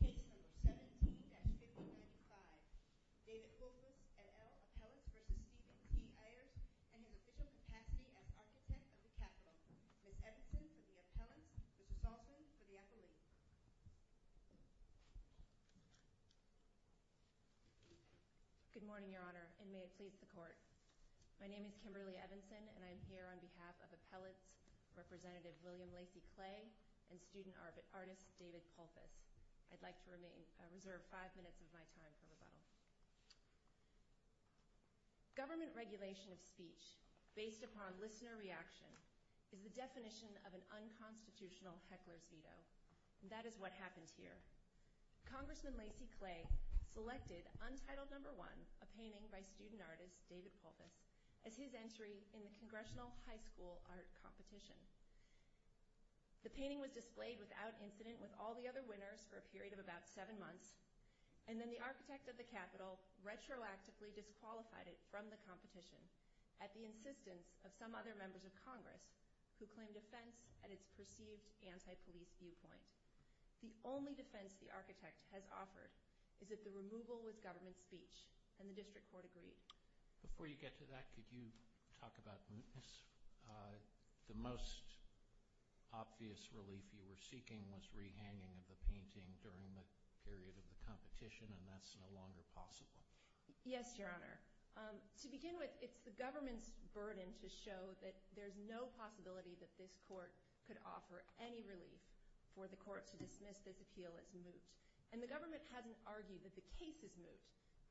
Case No. 17-5095. David Pulphus, et al., Appellants v. Stephen T. Ayers, in his official capacity as Architect of the Capitol. Ms. Evanson, for the Appellants. Mr. Salson, for the Appellate. Good morning, Your Honor, and may it please the Court. My name is Kimberly Evanson, and I'm here on behalf of Appellates, Representative William Lacey Clay, and student artist David Pulphus. I'd like to reserve five minutes of my time for rebuttal. Government regulation of speech based upon listener reaction is the definition of an unconstitutional heckler's veto, and that is what happened here. Congressman Lacey Clay selected Untitled No. 1, a painting by student artist David Pulphus, as his entry in the Congressional High School Art Competition. The painting was displayed without incident with all the other winners for a period of about seven months, and then the Architect of the Capitol retroactively disqualified it from the competition, at the insistence of some other members of Congress who claimed offense at its perceived anti-police viewpoint. The only defense the Architect has offered is that the removal was government speech, and the District Court agreed. Before you get to that, could you talk about mootness? The most obvious relief you were seeking was rehanging of the painting during the period of the competition, and that's no longer possible. Yes, Your Honor. To begin with, it's the government's burden to show that there's no possibility that this court could offer any relief for the court to dismiss this appeal as moot. And the government hasn't argued that the case is moot.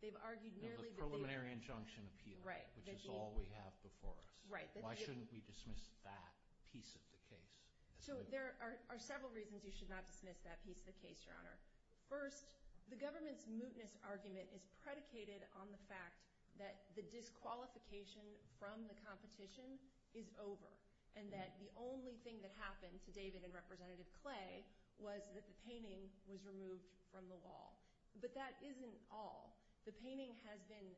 They've argued merely that they— No, the preliminary injunction appeal. Right. Which is all we have before us. Right. Why shouldn't we dismiss that piece of the case as moot? So there are several reasons you should not dismiss that piece of the case, Your Honor. First, the government's mootness argument is predicated on the fact that the disqualification from the competition is over, and that the only thing that happened to David and Representative Clay was that the painting was removed from the wall. But that isn't all. The painting has been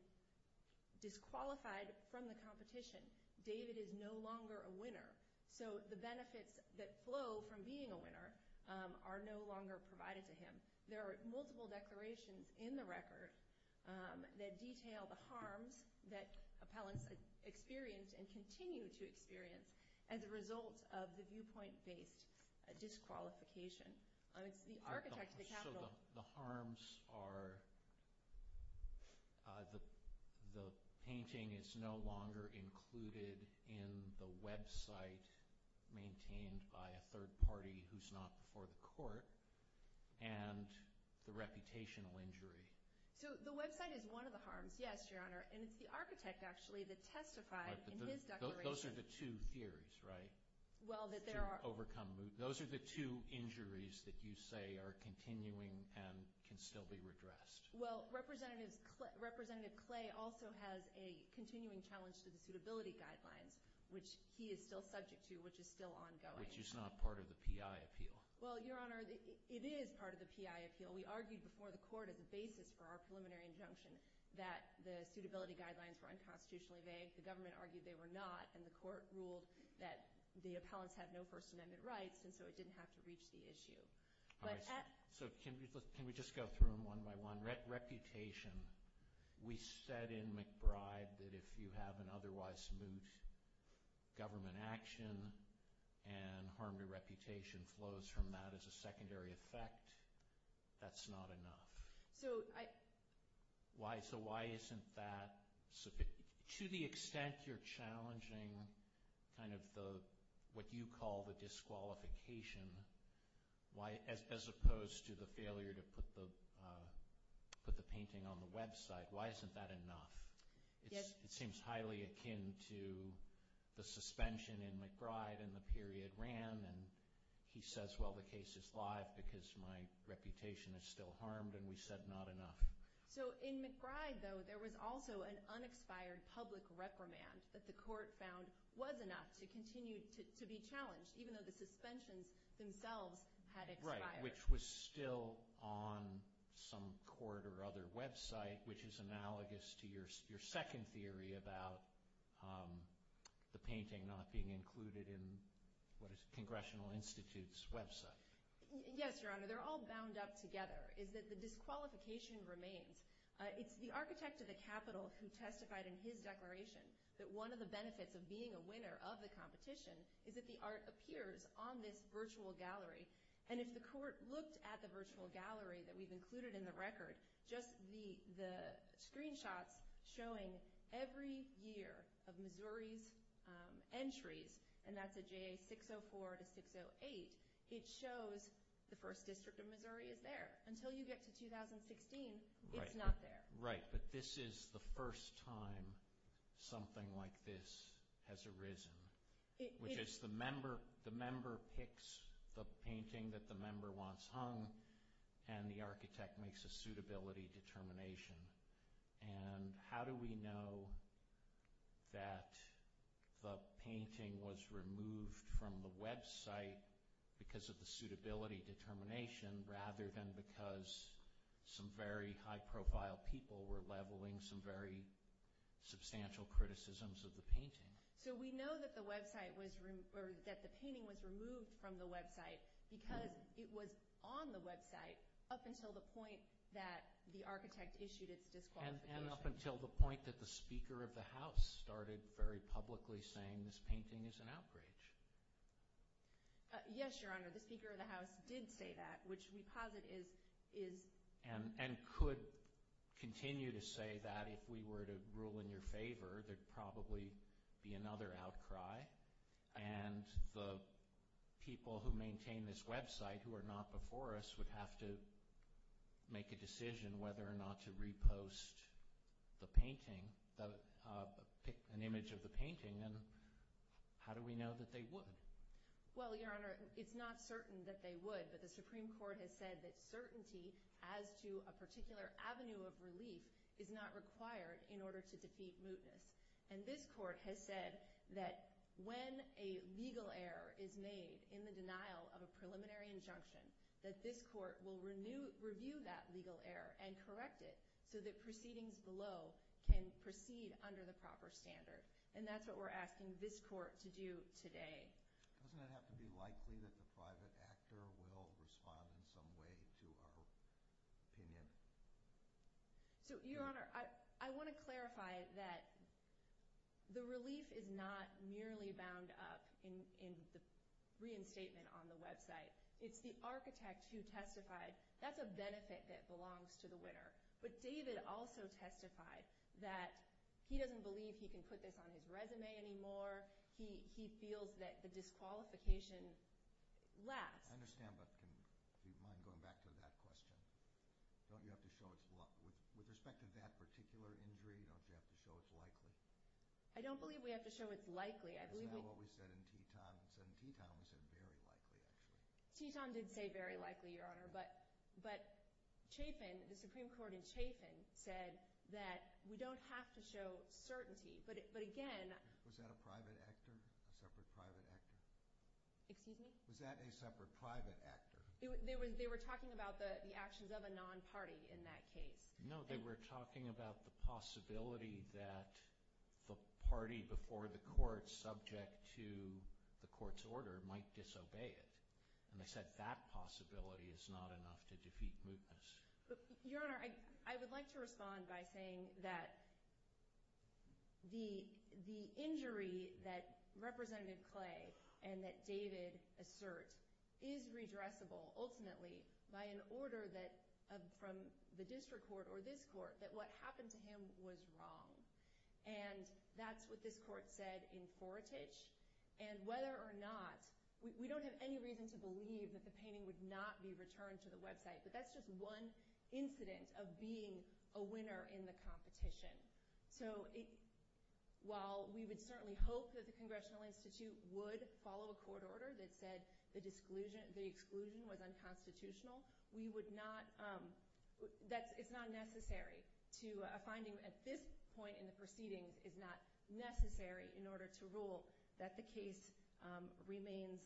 disqualified from the competition. David is no longer a winner. So the benefits that flow from being a winner are no longer provided to him. There are multiple declarations in the record that detail the harms that appellants experience and continue to experience as a result of the viewpoint-based disqualification. It's the architect of the Capitol— —maintained by a third party who's not before the court, and the reputational injury. So the website is one of the harms, yes, Your Honor. And it's the architect, actually, that testified in his declaration. Those are the two theories, right? Well, that there are— To overcome moot. Those are the two injuries that you say are continuing and can still be redressed. Well, Representative Clay also has a continuing challenge to the suitability guidelines, which he is still subject to, which is still ongoing. Which is not part of the P.I. appeal. Well, Your Honor, it is part of the P.I. appeal. We argued before the court as a basis for our preliminary injunction that the suitability guidelines were unconstitutionally vague. The government argued they were not, and the court ruled that the appellants had no First Amendment rights, and so it didn't have to reach the issue. So can we just go through them one by one? Reputation. We said in McBride that if you have an otherwise moot government action and harm to reputation flows from that as a secondary effect, that's not enough. So I— To the extent you're challenging kind of what you call the disqualification, as opposed to the failure to put the painting on the website, why isn't that enough? It seems highly akin to the suspension in McBride and the period ran, and he says, well, the case is live because my reputation is still harmed, and we said not enough. So in McBride, though, there was also an unexpired public reprimand that the court found was enough to continue to be challenged, even though the suspensions themselves had expired. Right, which was still on some court or other website, which is analogous to your second theory about the painting not being included in, what is it, Congressional Institute's website. Yes, Your Honor, they're all bound up together, is that the disqualification remains. It's the architect of the Capitol who testified in his declaration that one of the benefits of being a winner of the competition is that the art appears on this virtual gallery. And if the court looked at the virtual gallery that we've included in the record, just the screenshots showing every year of Missouri's entries, and that's a JA 604 to 608, it shows the first district of Missouri is there. Until you get to 2016, it's not there. Right, but this is the first time something like this has arisen, which is the member picks the painting that the member wants hung, and the architect makes a suitability determination. And how do we know that the painting was removed from the website because of the suitability determination, rather than because some very high profile people were leveling some very substantial criticisms of the painting? So we know that the painting was removed from the website because it was on the website up until the point that the architect issued its disqualification. And up until the point that the Speaker of the House started very publicly saying this painting is an outrage. Yes, Your Honor, the Speaker of the House did say that, which we posit is... And could continue to say that if we were to rule in your favor, there'd probably be another outcry. And the people who maintain this website who are not before us would have to make a decision whether or not to repost the painting, an image of the painting. And how do we know that they would? Well, Your Honor, it's not certain that they would, but the Supreme Court has said that certainty as to a particular avenue of relief is not required in order to defeat mootness. And this Court has said that when a legal error is made in the denial of a preliminary injunction, that this Court will review that legal error and correct it so that proceedings below can proceed under the proper standard. And that's what we're asking this Court to do today. Doesn't it have to be likely that the private actor will respond in some way to our opinion? So, Your Honor, I want to clarify that the relief is not merely bound up in the reinstatement on the website. It's the architect who testified. That's a benefit that belongs to the winner. But David also testified that he doesn't believe he can put this on his resume anymore. He feels that the disqualification lasts. I understand, but do you mind going back to that question? Don't you have to show it's likely? With respect to that particular injury, don't you have to show it's likely? I don't believe we have to show it's likely. Isn't that what we said in Teton? In Teton, we said very likely, actually. Teton did say very likely, Your Honor, but Chafin, the Supreme Court in Chafin, said that we don't have to show certainty. But again— Was that a private actor, a separate private actor? Excuse me? Was that a separate private actor? They were talking about the actions of a non-party in that case. No, they were talking about the possibility that the party before the court, subject to the court's order, might disobey it. And they said that possibility is not enough to defeat mootness. Your Honor, I would like to respond by saying that the injury that Rep. Clay and that David assert is redressable, ultimately, by an order from the district court or this court that what happened to him was wrong. And that's what this court said in Foretich. And whether or not—we don't have any reason to believe that the painting would not be returned to the website, but that's just one incident of being a winner in the competition. So while we would certainly hope that the Congressional Institute would follow a court order that said the exclusion was unconstitutional, we would not—it's not necessary to—a finding at this point in the proceedings is not necessary in order to rule that the case remains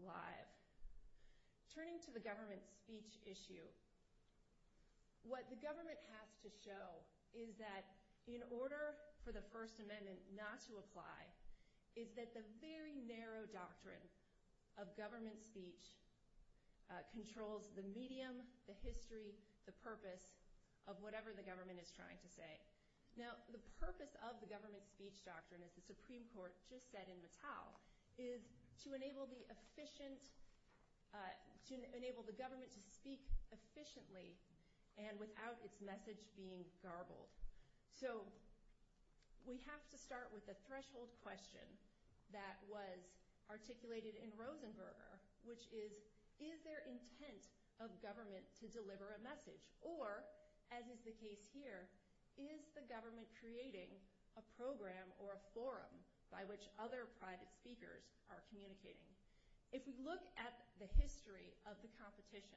live. Turning to the government speech issue, what the government has to show is that in order for the First Amendment not to apply, is that the very narrow doctrine of government speech controls the medium, the history, the purpose of whatever the government is trying to say. Now the purpose of the government speech doctrine, as the Supreme Court just said in Mattel, is to enable the efficient—to enable the government to speak efficiently and without its message being garbled. So we have to start with the threshold question that was articulated in Rosenberger, which is, is there intent of government to deliver a message? Or, as is the case here, is the government creating a program or a forum by which other private speakers are communicating? If we look at the history of the competition,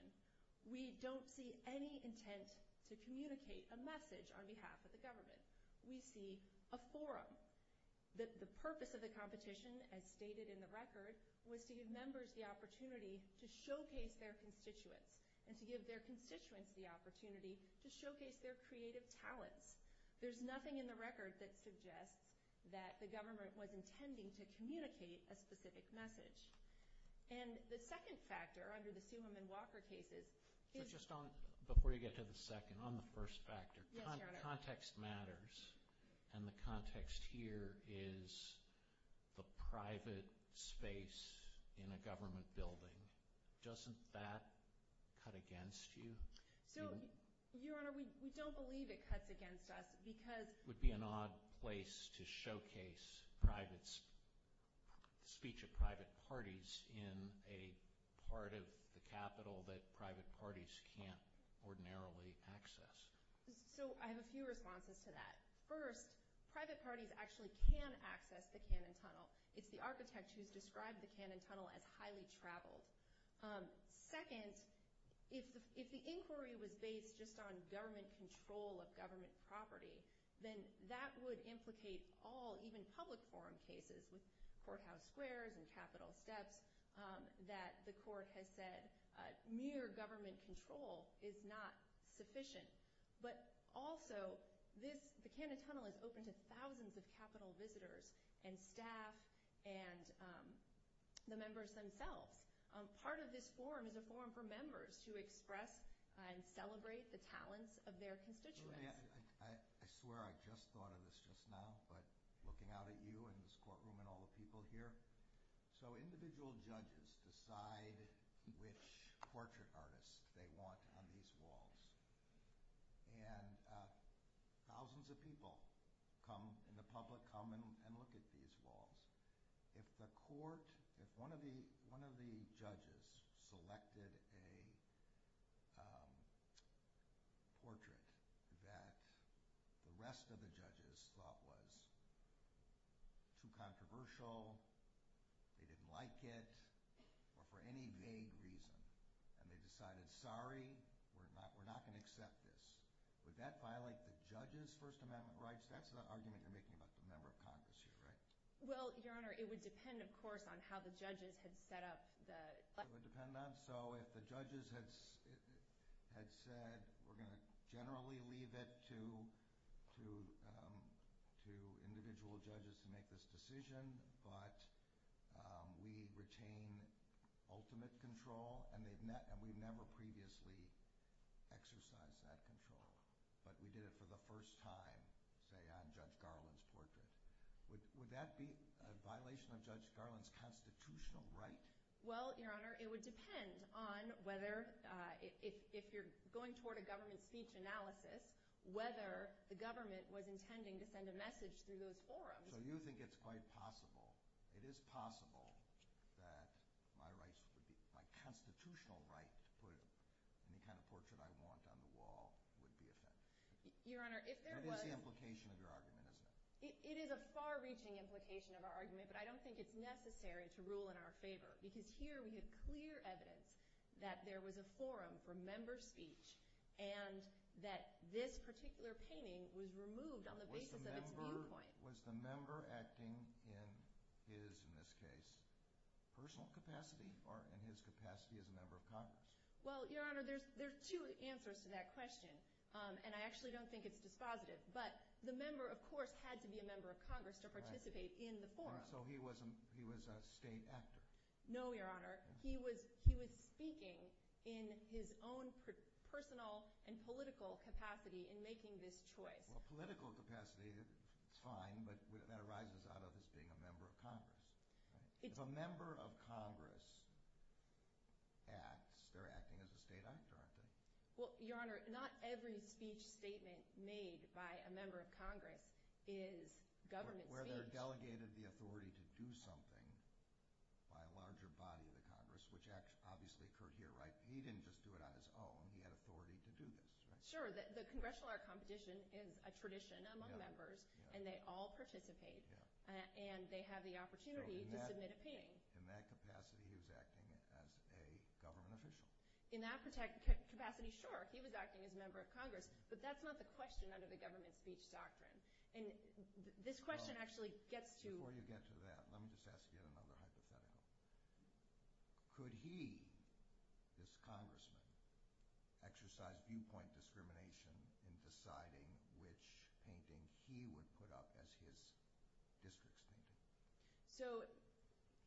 we don't see any intent to communicate a message on behalf of the government. We see a forum. The purpose of the competition, as stated in the record, was to give members the opportunity to showcase their constituents and to give their constituents the opportunity to showcase their creative talents. There's nothing in the record that suggests that the government was intending to communicate a specific message. And the second factor, under the Sumer and Walker cases— Before you get to the second, on the first factor, context matters. And the context here is the private space in a government building. Doesn't that cut against you? So, Your Honor, we don't believe it cuts against us because— to showcase the speech of private parties in a part of the Capitol that private parties can't ordinarily access. So, I have a few responses to that. First, private parties actually can access the Cannon Tunnel. It's the architect who's described the Cannon Tunnel as highly traveled. Second, if the inquiry was based just on government control of government property, then that would implicate all, even public forum cases with courthouse squares and Capitol steps, that the court has said mere government control is not sufficient. But also, the Cannon Tunnel is open to thousands of Capitol visitors and staff and the members themselves. Part of this forum is a forum for members to express and celebrate the talents of their constituents. I swear I just thought of this just now, but looking out at you and this courtroom and all the people here, so individual judges decide which portrait artists they want on these walls. And thousands of people come in the public, come and look at these walls. If the court—if one of the judges selected a portrait that the rest of the judges thought was too controversial, they didn't like it, or for any vague reason, and they decided, sorry, we're not going to accept this, would that violate the judges' First Amendment rights? That's the argument you're making about the member of Congress here, right? Well, Your Honor, it would depend, of course, on how the judges had set up the— It would depend on—so if the judges had said, we're going to generally leave it to individual judges to make this decision, but we retain ultimate control, and we've never previously exercised that control. But we did it for the first time, say, on Judge Garland's portrait. Would that be a violation of Judge Garland's constitutional right? Well, Your Honor, it would depend on whether— if you're going toward a government speech analysis, whether the government was intending to send a message through those forums. So you think it's quite possible—it is possible that my constitutional right to put any kind of portrait I want on the wall would be affected. Your Honor, if there was— That is the implication of your argument, isn't it? It is a far-reaching implication of our argument, but I don't think it's necessary to rule in our favor, because here we have clear evidence that there was a forum for member speech and that this particular painting was removed on the basis of its viewpoint. Was the member acting in his, in this case, personal capacity or in his capacity as a member of Congress? Well, Your Honor, there are two answers to that question, and I actually don't think it's dispositive. But the member, of course, had to be a member of Congress to participate in the forum. So he was a state actor? No, Your Honor. He was speaking in his own personal and political capacity in making this choice. Well, political capacity is fine, but that arises out of his being a member of Congress. If a member of Congress acts, they're acting as a state actor, aren't they? Well, Your Honor, not every speech statement made by a member of Congress is government speech. Where they're delegated the authority to do something by a larger body of the Congress, which obviously occurred here, right? He didn't just do it on his own. He had authority to do this, right? Sure. The Congressional Art Competition is a tradition among members, and they all participate, and they have the opportunity to submit a painting. So in that capacity, he was acting as a government official? In that capacity, sure, he was acting as a member of Congress, but that's not the question under the government speech doctrine. And this question actually gets to... Before you get to that, let me just ask you another hypothetical. Could he, this congressman, exercise viewpoint discrimination in deciding which painting he would put up as his district's painting? So,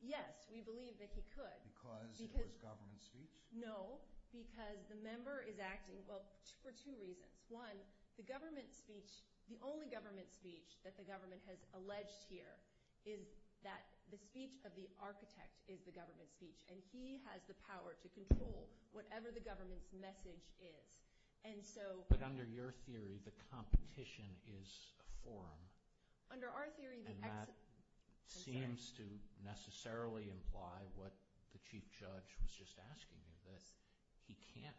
yes, we believe that he could. Because it was government speech? No, because the member is acting, well, for two reasons. One, the government speech, the only government speech that the government has alleged here is that the speech of the architect is the government speech. And he has the power to control whatever the government's message is. And so... But under your theory, the competition is a forum. And that seems to necessarily imply what the chief judge was just asking you, that he can't,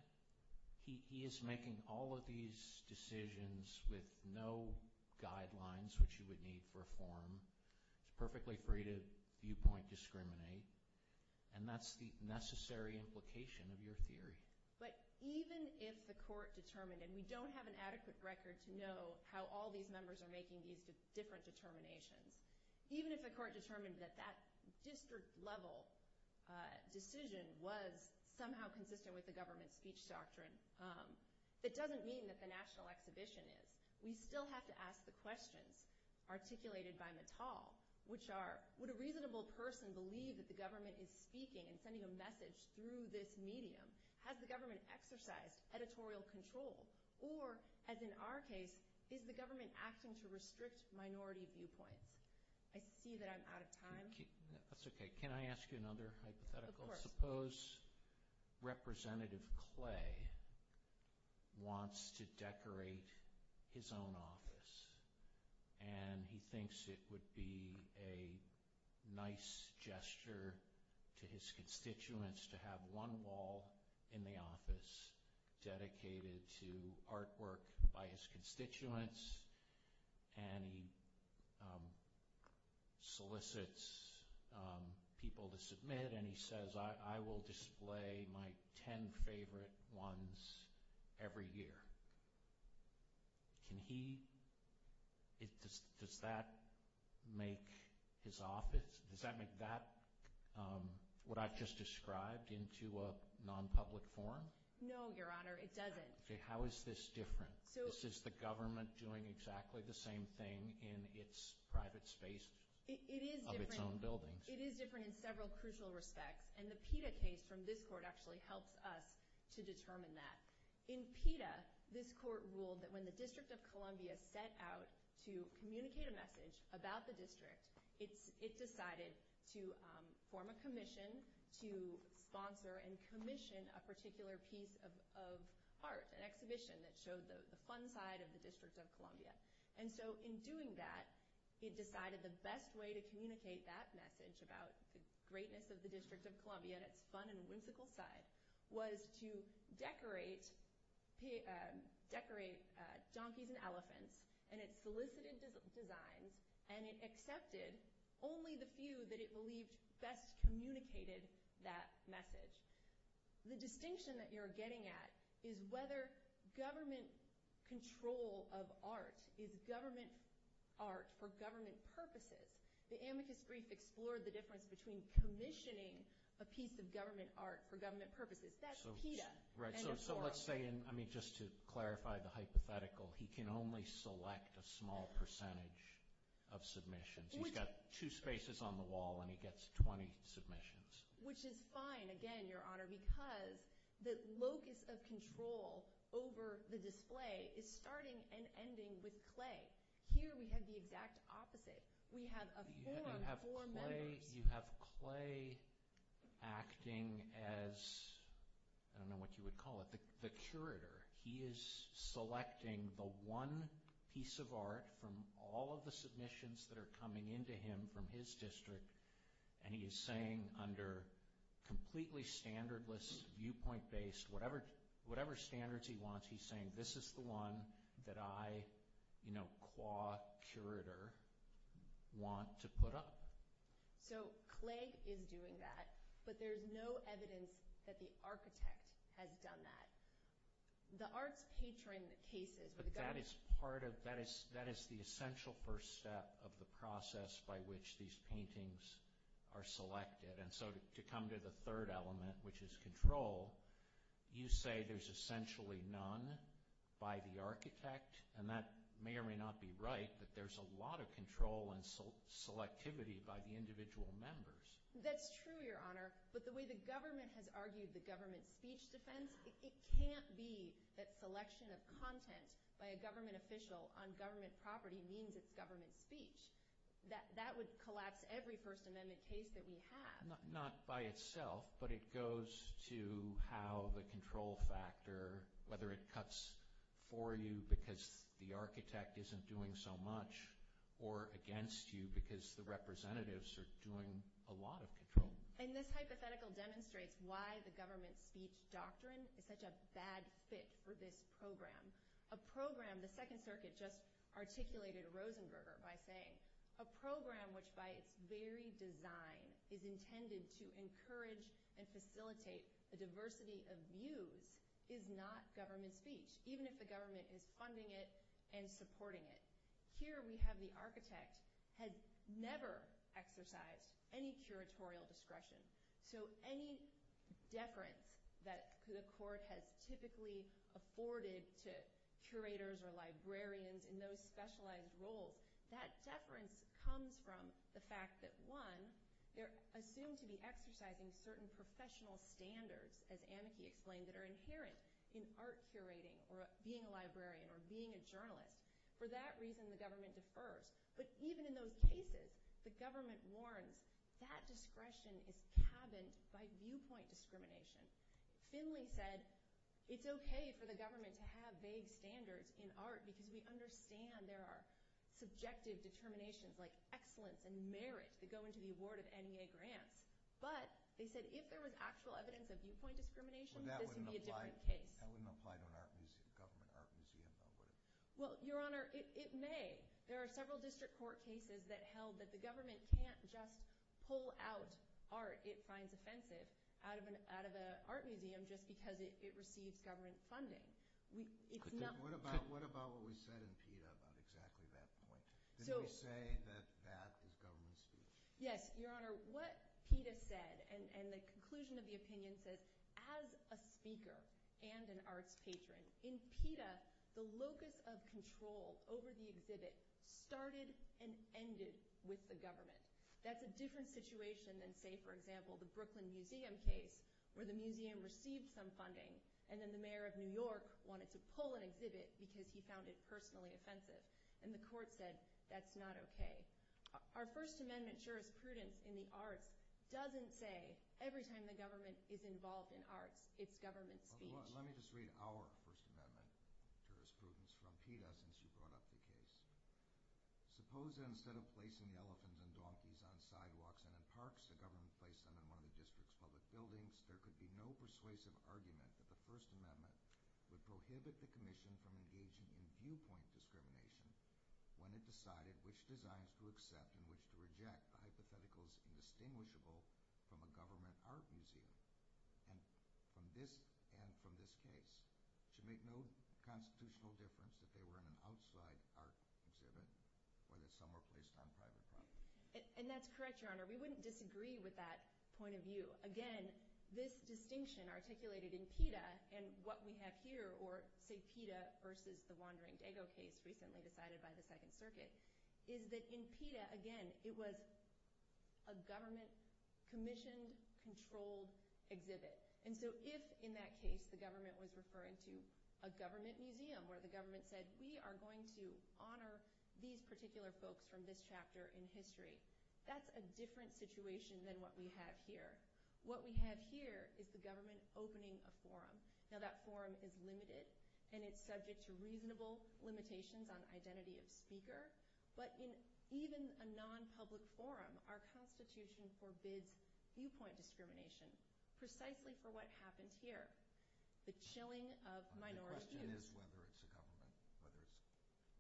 he is making all of these decisions with no guidelines, which you would need for a forum. He's perfectly free to viewpoint discriminate. And that's the necessary implication of your theory. But even if the court determined, and we don't have an adequate record to know how all these members are making these different determinations, even if the court determined that that district-level decision was somehow consistent with the government speech doctrine, that doesn't mean that the National Exhibition is. We still have to ask the questions articulated by Mittal, which are, would a reasonable person believe that the government is speaking and sending a message through this medium? Has the government exercised editorial control? Or, as in our case, is the government acting to restrict minority viewpoints? I see that I'm out of time. That's okay. Can I ask you another hypothetical? Of course. Suppose Representative Clay wants to decorate his own office. And he thinks it would be a nice gesture to his constituents to have one wall in the office dedicated to artwork by his constituents. And he solicits people to submit. And he says, I will display my ten favorite ones every year. Can he? Does that make his office, does that make that what I've just described into a non-public forum? No, Your Honor, it doesn't. Okay, how is this different? Is the government doing exactly the same thing in its private space of its own buildings? It is different in several crucial respects. And the PETA case from this court actually helps us to determine that. In PETA, this court ruled that when the District of Columbia set out to communicate a message about the district, it decided to form a commission to sponsor and commission a particular piece of art, an exhibition, that showed the fun side of the District of Columbia. And so in doing that, it decided the best way to communicate that message about the greatness of the District of Columbia and its fun and whimsical side was to decorate donkeys and elephants. And it solicited designs and it accepted only the few that it believed best communicated that message. The distinction that you're getting at is whether government control of art is government art for government purposes. The amicus brief explored the difference between commissioning a piece of government art for government purposes. So let's say, just to clarify the hypothetical, he can only select a small percentage of submissions. He's got two spaces on the wall and he gets 20 submissions. Which is fine, again, Your Honor, because the locus of control over the display is starting and ending with clay. Here we have the exact opposite. We have a forum for members. You have clay acting as, I don't know what you would call it, the curator. He is selecting the one piece of art from all of the submissions that are coming into him from his district, and he is saying under completely standardless, viewpoint-based, whatever standards he wants, he's saying this is the one that I, you know, qua curator, want to put up. So clay is doing that, but there's no evidence that the architect has done that. The arts patron cases, where the government... But that is part of, that is the essential first step of the process by which these paintings are selected. And so to come to the third element, which is control, you say there's essentially none by the architect, and that may or may not be right, but there's a lot of control and selectivity by the individual members. That's true, Your Honor, but the way the government has argued the government speech defense, it can't be that selection of content by a government official on government property means it's government speech. That would collapse every First Amendment case that we have. Not by itself, but it goes to how the control factor, whether it cuts for you because the architect isn't doing so much, or against you because the representatives are doing a lot of control. And this hypothetical demonstrates why the government speech doctrine is such a bad fit for this program. A program, the Second Circuit just articulated Rosenberger by saying, a program which by its very design is intended to encourage and facilitate a diversity of views is not government speech, even if the government is funding it and supporting it. Here we have the architect had never exercised any curatorial discretion. So any deference that the court has typically afforded to curators or librarians in those specialized roles, that deference comes from the fact that, one, they're assumed to be exercising certain professional standards, as Amaki explained, that are inherent in art curating or being a librarian or being a journalist. For that reason, the government defers. But even in those cases, the government warns that discretion is cabined by viewpoint discrimination. Finley said it's okay for the government to have vague standards in art because we understand there are subjective determinations like excellence and merit that go into the award of NEA grants. But they said if there was actual evidence of viewpoint discrimination, this would be a different case. That wouldn't apply to a government art museum, though, would it? Well, Your Honor, it may. There are several district court cases that held that the government can't just pull out art it finds offensive out of an art museum just because it receives government funding. What about what we said in PETA about exactly that point? Did we say that that is government speech? Yes, Your Honor. What PETA said, and the conclusion of the opinion says, as a speaker and an arts patron, in PETA, the locus of control over the exhibit started and ended with the government. That's a different situation than, say, for example, the Brooklyn Museum case, where the museum received some funding, and then the mayor of New York wanted to pull an exhibit because he found it personally offensive, and the court said that's not okay. Our First Amendment jurisprudence in the arts doesn't say every time the government is involved in arts, it's government speech. Let me just read our First Amendment jurisprudence from PETA since you brought up the case. Suppose that instead of placing the elephants and donkeys on sidewalks and in parks, the government placed them in one of the district's public buildings. There could be no persuasive argument that the First Amendment would prohibit the commission from engaging in viewpoint discrimination when it decided which designs to accept and which to reject, the hypotheticals indistinguishable from a government art museum. And from this case, it should make no constitutional difference that they were in an outside art exhibit or that some were placed on private property. And that's correct, Your Honor. We wouldn't disagree with that point of view. Again, this distinction articulated in PETA and what we have here, or say PETA versus the Wandering Dago case recently decided by the Second Circuit, is that in PETA, again, it was a government-commissioned, controlled exhibit. And so if in that case the government was referring to a government museum where the government said we are going to honor these particular folks from this chapter in history, that's a different situation than what we have here. What we have here is the government opening a forum. Now that forum is limited, and it's subject to reasonable limitations on identity of speaker. But in even a non-public forum, our Constitution forbids viewpoint discrimination, precisely for what happens here, the chilling of minority views. The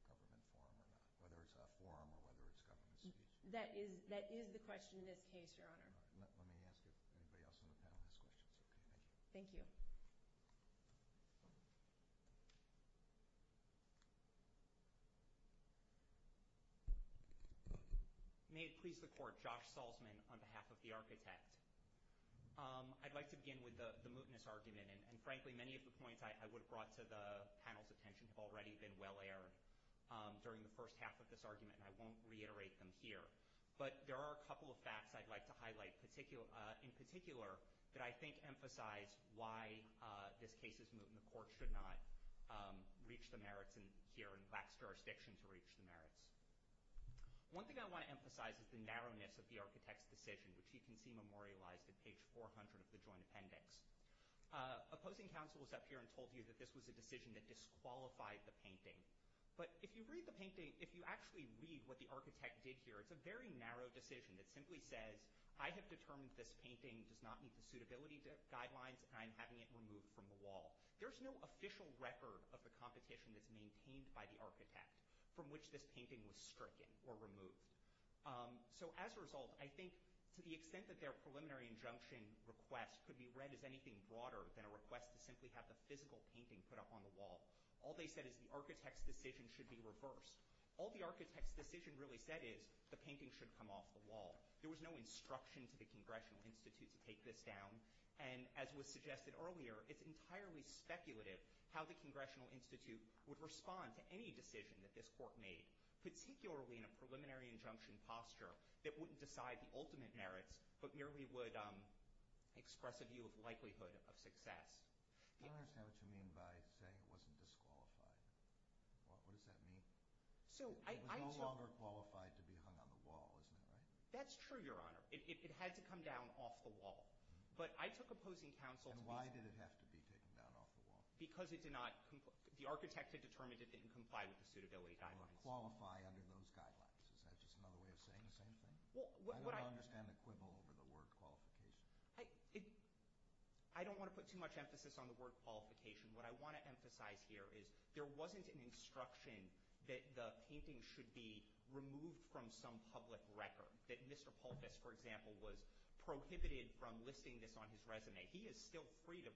question is whether it's a government forum or not, whether it's a forum or whether it's government space. That is the question in this case, Your Honor. Let me ask if anybody else on the panel has questions. Thank you. May it please the Court, Josh Salzman on behalf of the Architect. I'd like to begin with the mootness argument. And frankly, many of the points I would have brought to the panel's attention have already been well aired during the first half of this argument, and I won't reiterate them here. But there are a couple of facts I'd like to highlight in particular that I think emphasize why this case is moot and the Court should not reach the merits here in Black's jurisdiction to reach the merits. One thing I want to emphasize is the narrowness of the Architect's decision, which you can see memorialized at page 400 of the joint appendix. Opposing counsel was up here and told you that this was a decision that disqualified the painting. But if you read the painting, if you actually read what the Architect did here, it's a very narrow decision that simply says, I have determined this painting does not meet the suitability guidelines and I'm having it removed from the wall. There's no official record of the competition that's maintained by the Architect from which this painting was stricken or removed. So as a result, I think to the extent that their preliminary injunction request could be read as anything broader than a request to simply have the physical painting put up on the wall, all they said is the Architect's decision should be reversed. All the Architect's decision really said is the painting should come off the wall. There was no instruction to the Congressional Institute to take this down. And as was suggested earlier, it's entirely speculative how the Congressional Institute would respond to any decision that this Court made, particularly in a preliminary injunction posture that wouldn't decide the ultimate merits but merely would express a view of likelihood of success. I don't understand what you mean by saying it wasn't disqualified. What does that mean? It was no longer qualified to be hung on the wall, isn't it, right? That's true, Your Honor. It had to come down off the wall. But I took opposing counsel to be— And why did it have to be taken down off the wall? Because it did not—the Architect had determined it didn't comply with the suitability guidelines. Qualify under those guidelines. Is that just another way of saying the same thing? I don't understand the quibble over the word qualification. I don't want to put too much emphasis on the word qualification. What I want to emphasize here is there wasn't an instruction that the painting should be removed from some public record, that Mr. Pulvis, for example, was prohibited from listing this on his resume. He is still free to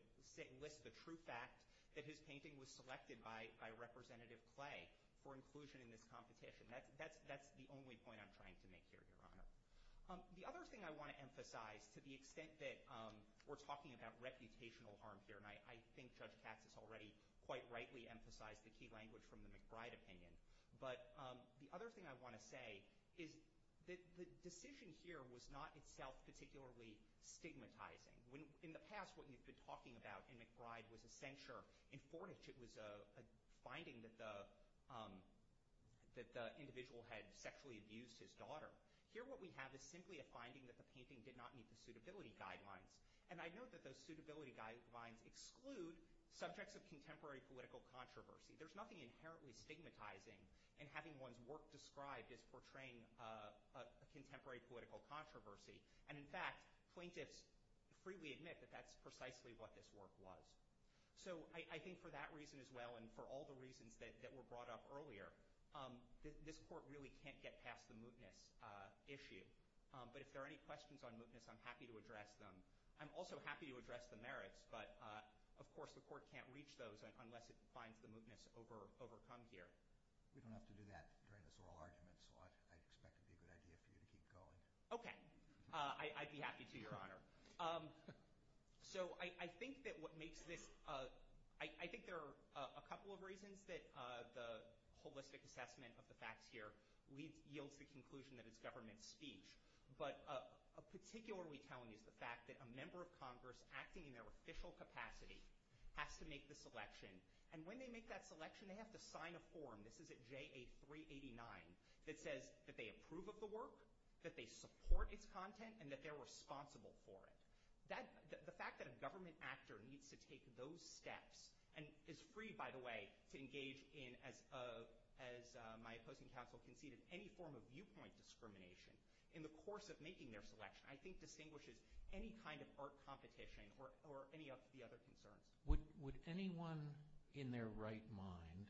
list the true fact that his painting was selected by Representative Clay for inclusion in this competition. That's the only point I'm trying to make here, Your Honor. The other thing I want to emphasize, to the extent that we're talking about reputational harm here, and I think Judge Katz has already quite rightly emphasized the key language from the McBride opinion, but the other thing I want to say is that the decision here was not itself particularly stigmatizing. In the past, what you've been talking about in McBride was a censure. In Fortich, it was a finding that the individual had sexually abused his daughter. Here, what we have is simply a finding that the painting did not meet the suitability guidelines, and I note that those suitability guidelines exclude subjects of contemporary political controversy. There's nothing inherently stigmatizing in having one's work described as portraying a contemporary political controversy, and in fact, plaintiffs freely admit that that's precisely what this work was. So I think for that reason as well, and for all the reasons that were brought up earlier, this court really can't get past the mootness issue. But if there are any questions on mootness, I'm happy to address them. I'm also happy to address the merits, but of course the court can't reach those unless it finds the mootness overcome here. We don't have to do that during this oral argument, so I expect it to be a good idea for you to keep going. Okay. I'd be happy to, Your Honor. So I think that what makes this—I think there are a couple of reasons that the holistic assessment of the facts here yields the conclusion that it's government speech. But particularly telling is the fact that a member of Congress acting in their official capacity has to make the selection, and when they make that selection, they have to sign a form—this is at JA 389—that says that they approve of the work, that they support its content, and that they're responsible for it. The fact that a government actor needs to take those steps, and is free, by the way, to engage in, as my opposing counsel conceded, any form of viewpoint discrimination in the course of making their selection, I think distinguishes any kind of art competition or any of the other concerns. Would anyone in their right mind,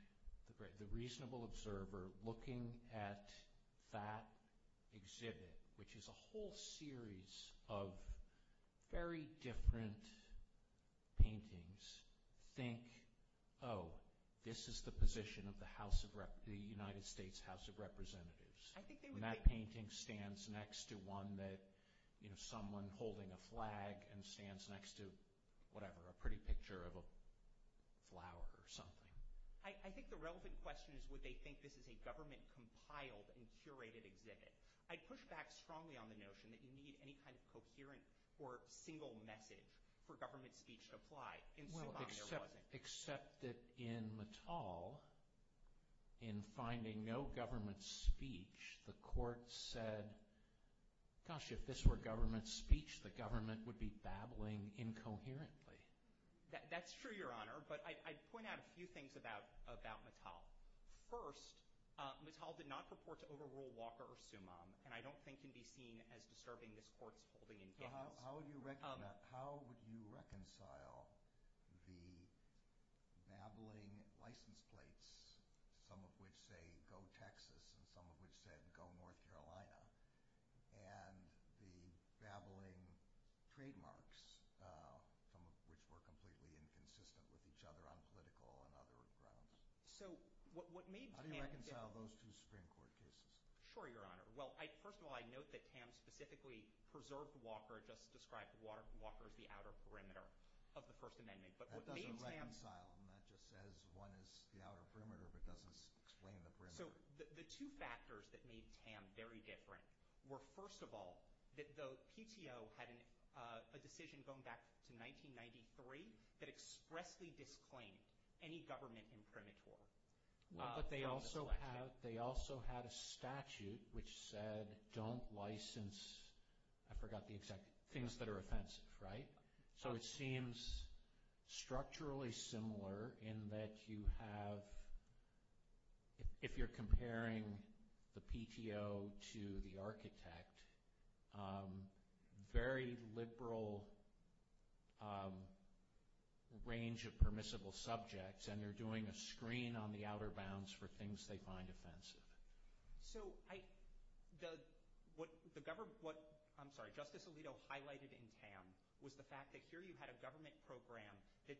the reasonable observer, looking at that exhibit, which is a whole series of very different paintings, think, oh, this is the position of the United States House of Representatives? And that painting stands next to one that, you know, someone holding a flag and stands next to, whatever, a pretty picture of a flower or something. I think the relevant question is would they think this is a government-compiled and curated exhibit. I'd push back strongly on the notion that you need any kind of coherent or single message for government speech to apply. Well, except that in Mattal, in finding no government speech, the court said, gosh, if this were government speech, the government would be babbling incoherently. That's true, Your Honor, but I'd point out a few things about Mattal. First, Mattal did not purport to overrule Walker or Sumam, and I don't think can be seen as disturbing this Court's holding in Gaines. How would you reconcile the babbling license plates, some of which say go Texas and some of which say go North Carolina, and the babbling trademarks, some of which were completely inconsistent with each other on political and other grounds? How do you reconcile those two Supreme Court cases? Sure, Your Honor. Well, first of all, I note that Tam specifically preserved Walker, just described Walker as the outer perimeter of the First Amendment. That doesn't reconcile them. That just says one is the outer perimeter but doesn't explain the perimeter. So the two factors that made Tam very different were, first of all, that the PTO had a decision going back to 1993 that expressly disclaimed any government imprimatur. But they also had a statute which said don't license, I forgot the exact, things that are offensive, right? So it seems structurally similar in that you have, if you're comparing the PTO to the architect, very liberal range of permissible subjects and they're doing a screen on the outer bounds for things they find offensive. So what Justice Alito highlighted in Tam was the fact that here you had a government program that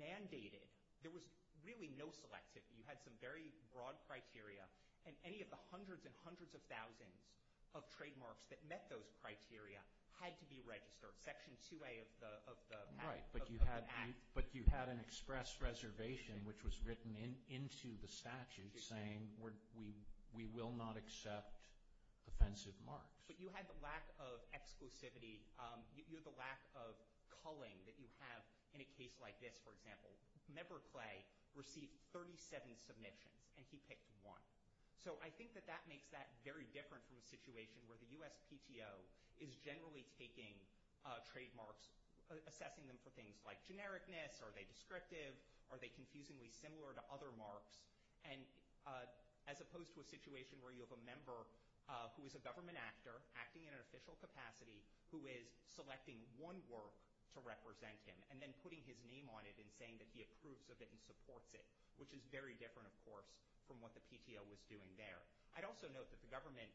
mandated, there was really no selectivity. You had some very broad criteria and any of the hundreds and hundreds of thousands of trademarks that met those criteria had to be registered. Section 2A of the Act. Right, but you had an express reservation which was written into the statute saying we will not accept offensive marks. But you had the lack of exclusivity, you had the lack of culling that you have in a case like this, for example. Member Clay received 37 submissions and he picked one. So I think that that makes that very different from a situation where the US PTO is generally taking trademarks, assessing them for things like genericness, are they descriptive, are they confusingly similar to other marks, as opposed to a situation where you have a member who is a government actor, acting in an official capacity, who is selecting one work to represent him and then putting his name on it and saying that he approves of it and supports it, which is very different, of course, from what the PTO was doing there. I'd also note that the government,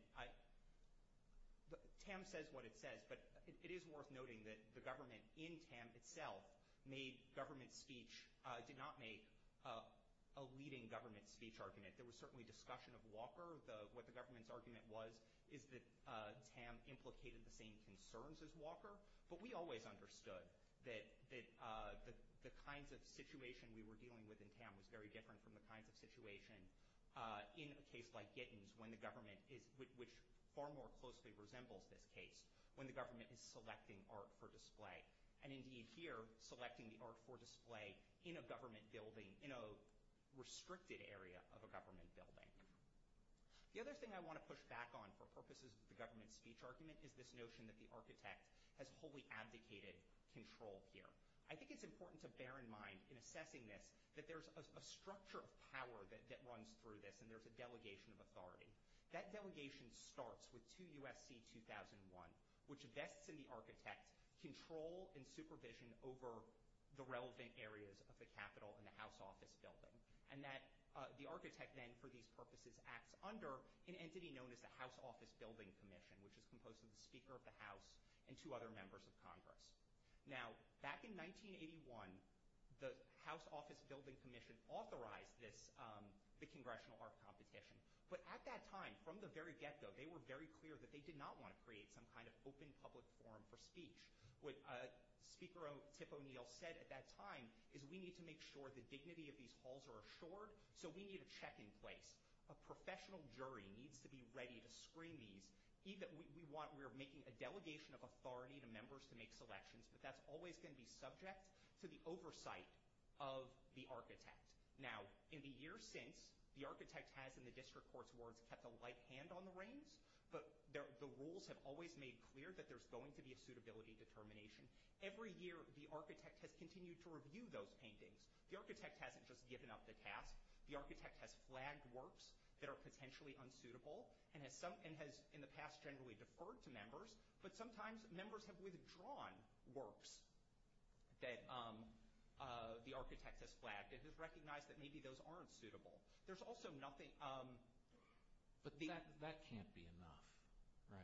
TAM says what it says, but it is worth noting that the government in TAM itself made government speech, did not make a leading government speech argument. There was certainly discussion of Walker. What the government's argument was is that TAM implicated the same concerns as Walker, but we always understood that the kinds of situation we were dealing with in TAM was very different from the kinds of situation in a case like Gittins, which far more closely resembles this case, when the government is selecting art for display, and indeed here, selecting the art for display in a government building, in a restricted area of a government building. The other thing I want to push back on for purposes of the government speech argument is this notion that the architect has wholly abdicated control here. I think it's important to bear in mind, in assessing this, that there's a structure of power that runs through this, and there's a delegation of authority. That delegation starts with 2 U.S.C. 2001, which vests in the architect control and supervision over the relevant areas of the Capitol and the House Office building, and that the architect then, for these purposes, acts under an entity known as the House Office Building Commission, which is composed of the Speaker of the House and 2 other members of Congress. Now, back in 1981, the House Office Building Commission authorized the Congressional Art Competition, but at that time, from the very get-go, they were very clear that they did not want to create some kind of open public forum for speech. What Speaker Tip O'Neill said at that time is, we need to make sure the dignity of these halls are assured, so we need a check-in place. A professional jury needs to be ready to screen these. We are making a delegation of authority to members to make selections, but that's always going to be subject to the oversight of the architect. Now, in the years since, the architect has, in the district court's words, kept a light hand on the reins, but the rules have always made clear that there's going to be a suitability determination. Every year, the architect has continued to review those paintings. The architect hasn't just given up the task. The architect has flagged works that are potentially unsuitable and has, in the past, generally deferred to members, but sometimes members have withdrawn works that the architect has flagged and has recognized that maybe those aren't suitable. There's also nothing— But that can't be enough,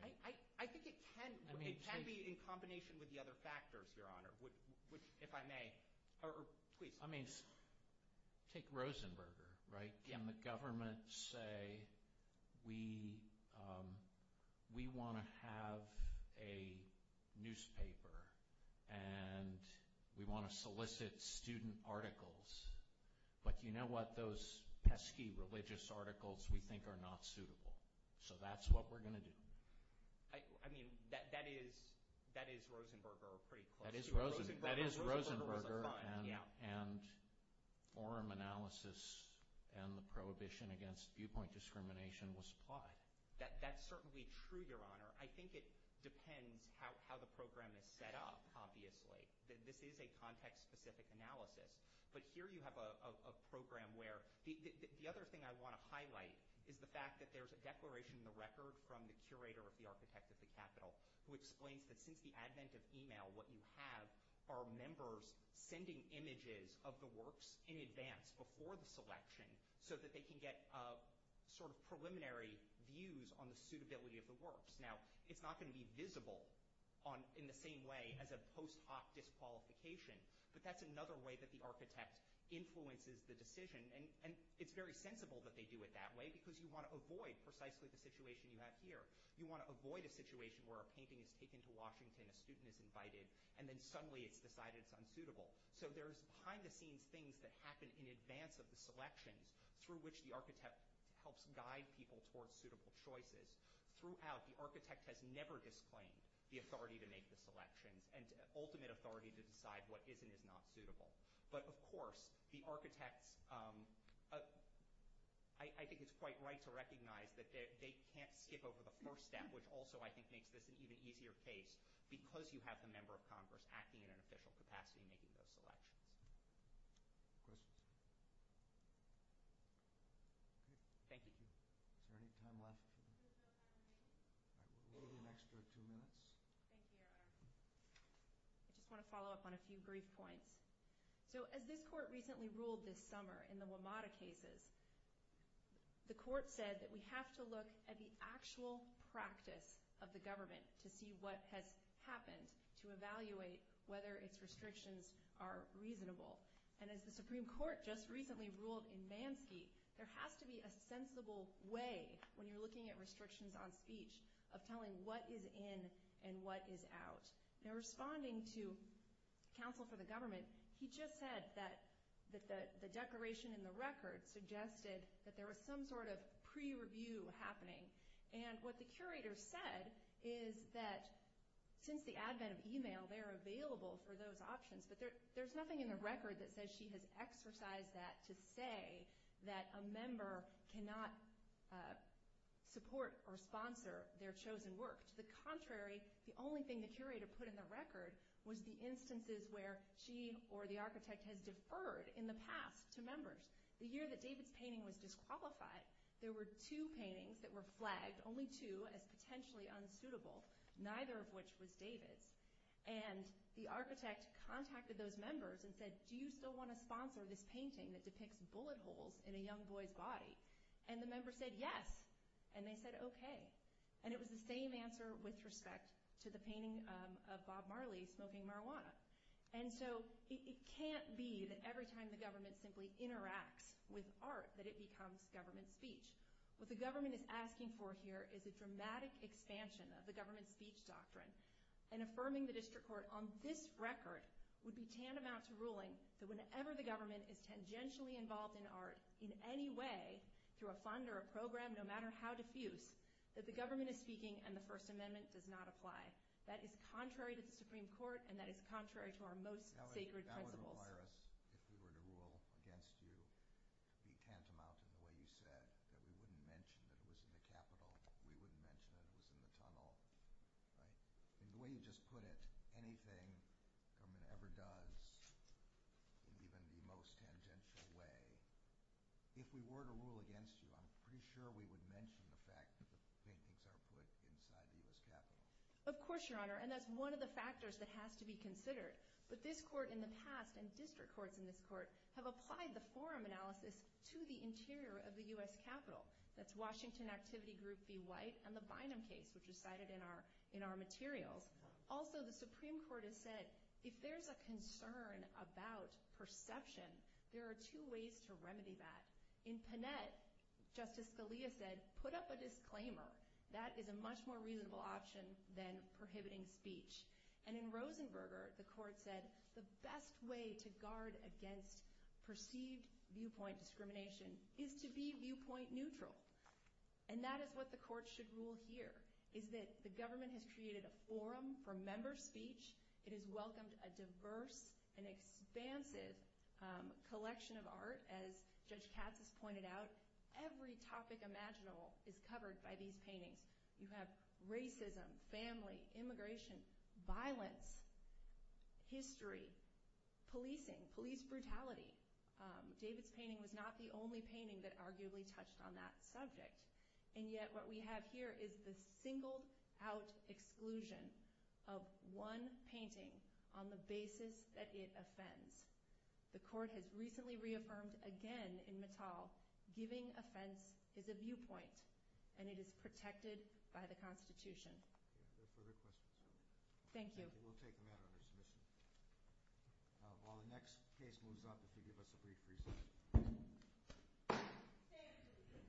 right? I think it can. It can be in combination with the other factors, Your Honor, if I may. I mean, take Rosenberger, right? Can the government say, we want to have a newspaper and we want to solicit student articles, but you know what? Those pesky religious articles we think are not suitable. So that's what we're going to do. I mean, that is Rosenberger pretty closely. That is Rosenberger, and forum analysis and the prohibition against viewpoint discrimination was applied. That's certainly true, Your Honor. I think it depends how the program is set up, obviously. This is a context-specific analysis, but here you have a program where— The other thing I want to highlight is the fact that there's a declaration in the record from the curator of the Architect of the Capitol who explains that since the advent of email, what you have are members sending images of the works in advance, before the selection, so that they can get sort of preliminary views on the suitability of the works. Now, it's not going to be visible in the same way as a post hoc disqualification, but that's another way that the architect influences the decision, and it's very sensible that they do it that way because you want to avoid precisely the situation you have here. You want to avoid a situation where a painting is taken to Washington, a student is invited, and then suddenly it's decided it's unsuitable. So there's behind-the-scenes things that happen in advance of the selections through which the architect helps guide people towards suitable choices. Throughout, the architect has never disclaimed the authority to make the selections and ultimate authority to decide what is and is not suitable. But, of course, the architects—I think it's quite right to recognize that they can't skip over the first step, which also, I think, makes this an even easier case, because you have the member of Congress acting in an official capacity making those selections. Questions? Thank you. Is there any time left? Maybe an extra two minutes. Thank you, Your Honor. I just want to follow up on a few brief points. So as this court recently ruled this summer in the WMATA cases, the court said that we have to look at the actual practice of the government to see what has happened to evaluate whether its restrictions are reasonable. And as the Supreme Court just recently ruled in Mansky, there has to be a sensible way, when you're looking at restrictions on speech, of telling what is in and what is out. Now, responding to counsel for the government, he just said that the declaration in the record suggested that there was some sort of pre-review happening. And what the curator said is that since the advent of e-mail, they're available for those options, but there's nothing in the record that says she has exercised that to say that a member cannot support or sponsor their chosen work. To the contrary, the only thing the curator put in the record was the instances where she or the architect has deferred in the past to members. The year that David's painting was disqualified, there were two paintings that were flagged, only two, as potentially unsuitable, neither of which was David's. And the architect contacted those members and said, do you still want to sponsor this painting that depicts bullet holes in a young boy's body? And the members said yes, and they said okay. And it was the same answer with respect to the painting of Bob Marley smoking marijuana. And so it can't be that every time the government simply interacts with art, that it becomes government speech. What the government is asking for here is a dramatic expansion of the government speech doctrine and affirming the district court on this record would be tantamount to ruling that whenever the government is tangentially involved in art in any way, through a fund or a program, no matter how diffuse, that the government is speaking and the First Amendment does not apply. That is contrary to the Supreme Court, and that is contrary to our most sacred principles. That would require us, if we were to rule against you, to be tantamount in the way you said, that we wouldn't mention that it was in the Capitol, we wouldn't mention that it was in the tunnel, right? In the way you just put it, anything the government ever does, even the most tangential way, if we were to rule against you, I'm pretty sure we would mention the fact that the paintings are put inside the U.S. Capitol. Of course, Your Honor, and that's one of the factors that has to be considered. But this court in the past, and district courts in this court, have applied the forum analysis to the interior of the U.S. Capitol. That's Washington Activity Group v. White and the Bynum case, which is cited in our materials. Also, the Supreme Court has said, if there's a concern about perception, there are two ways to remedy that. In Panett, Justice Scalia said, put up a disclaimer. That is a much more reasonable option than prohibiting speech. And in Rosenberger, the court said, the best way to guard against perceived viewpoint discrimination is to be viewpoint neutral. And that is what the court should rule here, is that the government has created a forum for member speech. It has welcomed a diverse and expansive collection of art, as Judge Katz has pointed out. Every topic imaginable is covered by these paintings. You have racism, family, immigration, violence, history, policing, police brutality. David's painting was not the only painting that arguably touched on that subject. And yet, what we have here is the singled-out exclusion of one painting on the basis that it offends. The court has recently reaffirmed again in Mittal, giving offense is a viewpoint, and it is protected by the Constitution. Are there further questions? Thank you. We'll take the matter under submission. While the next case moves up, if you'll give us a brief recess. Thank you.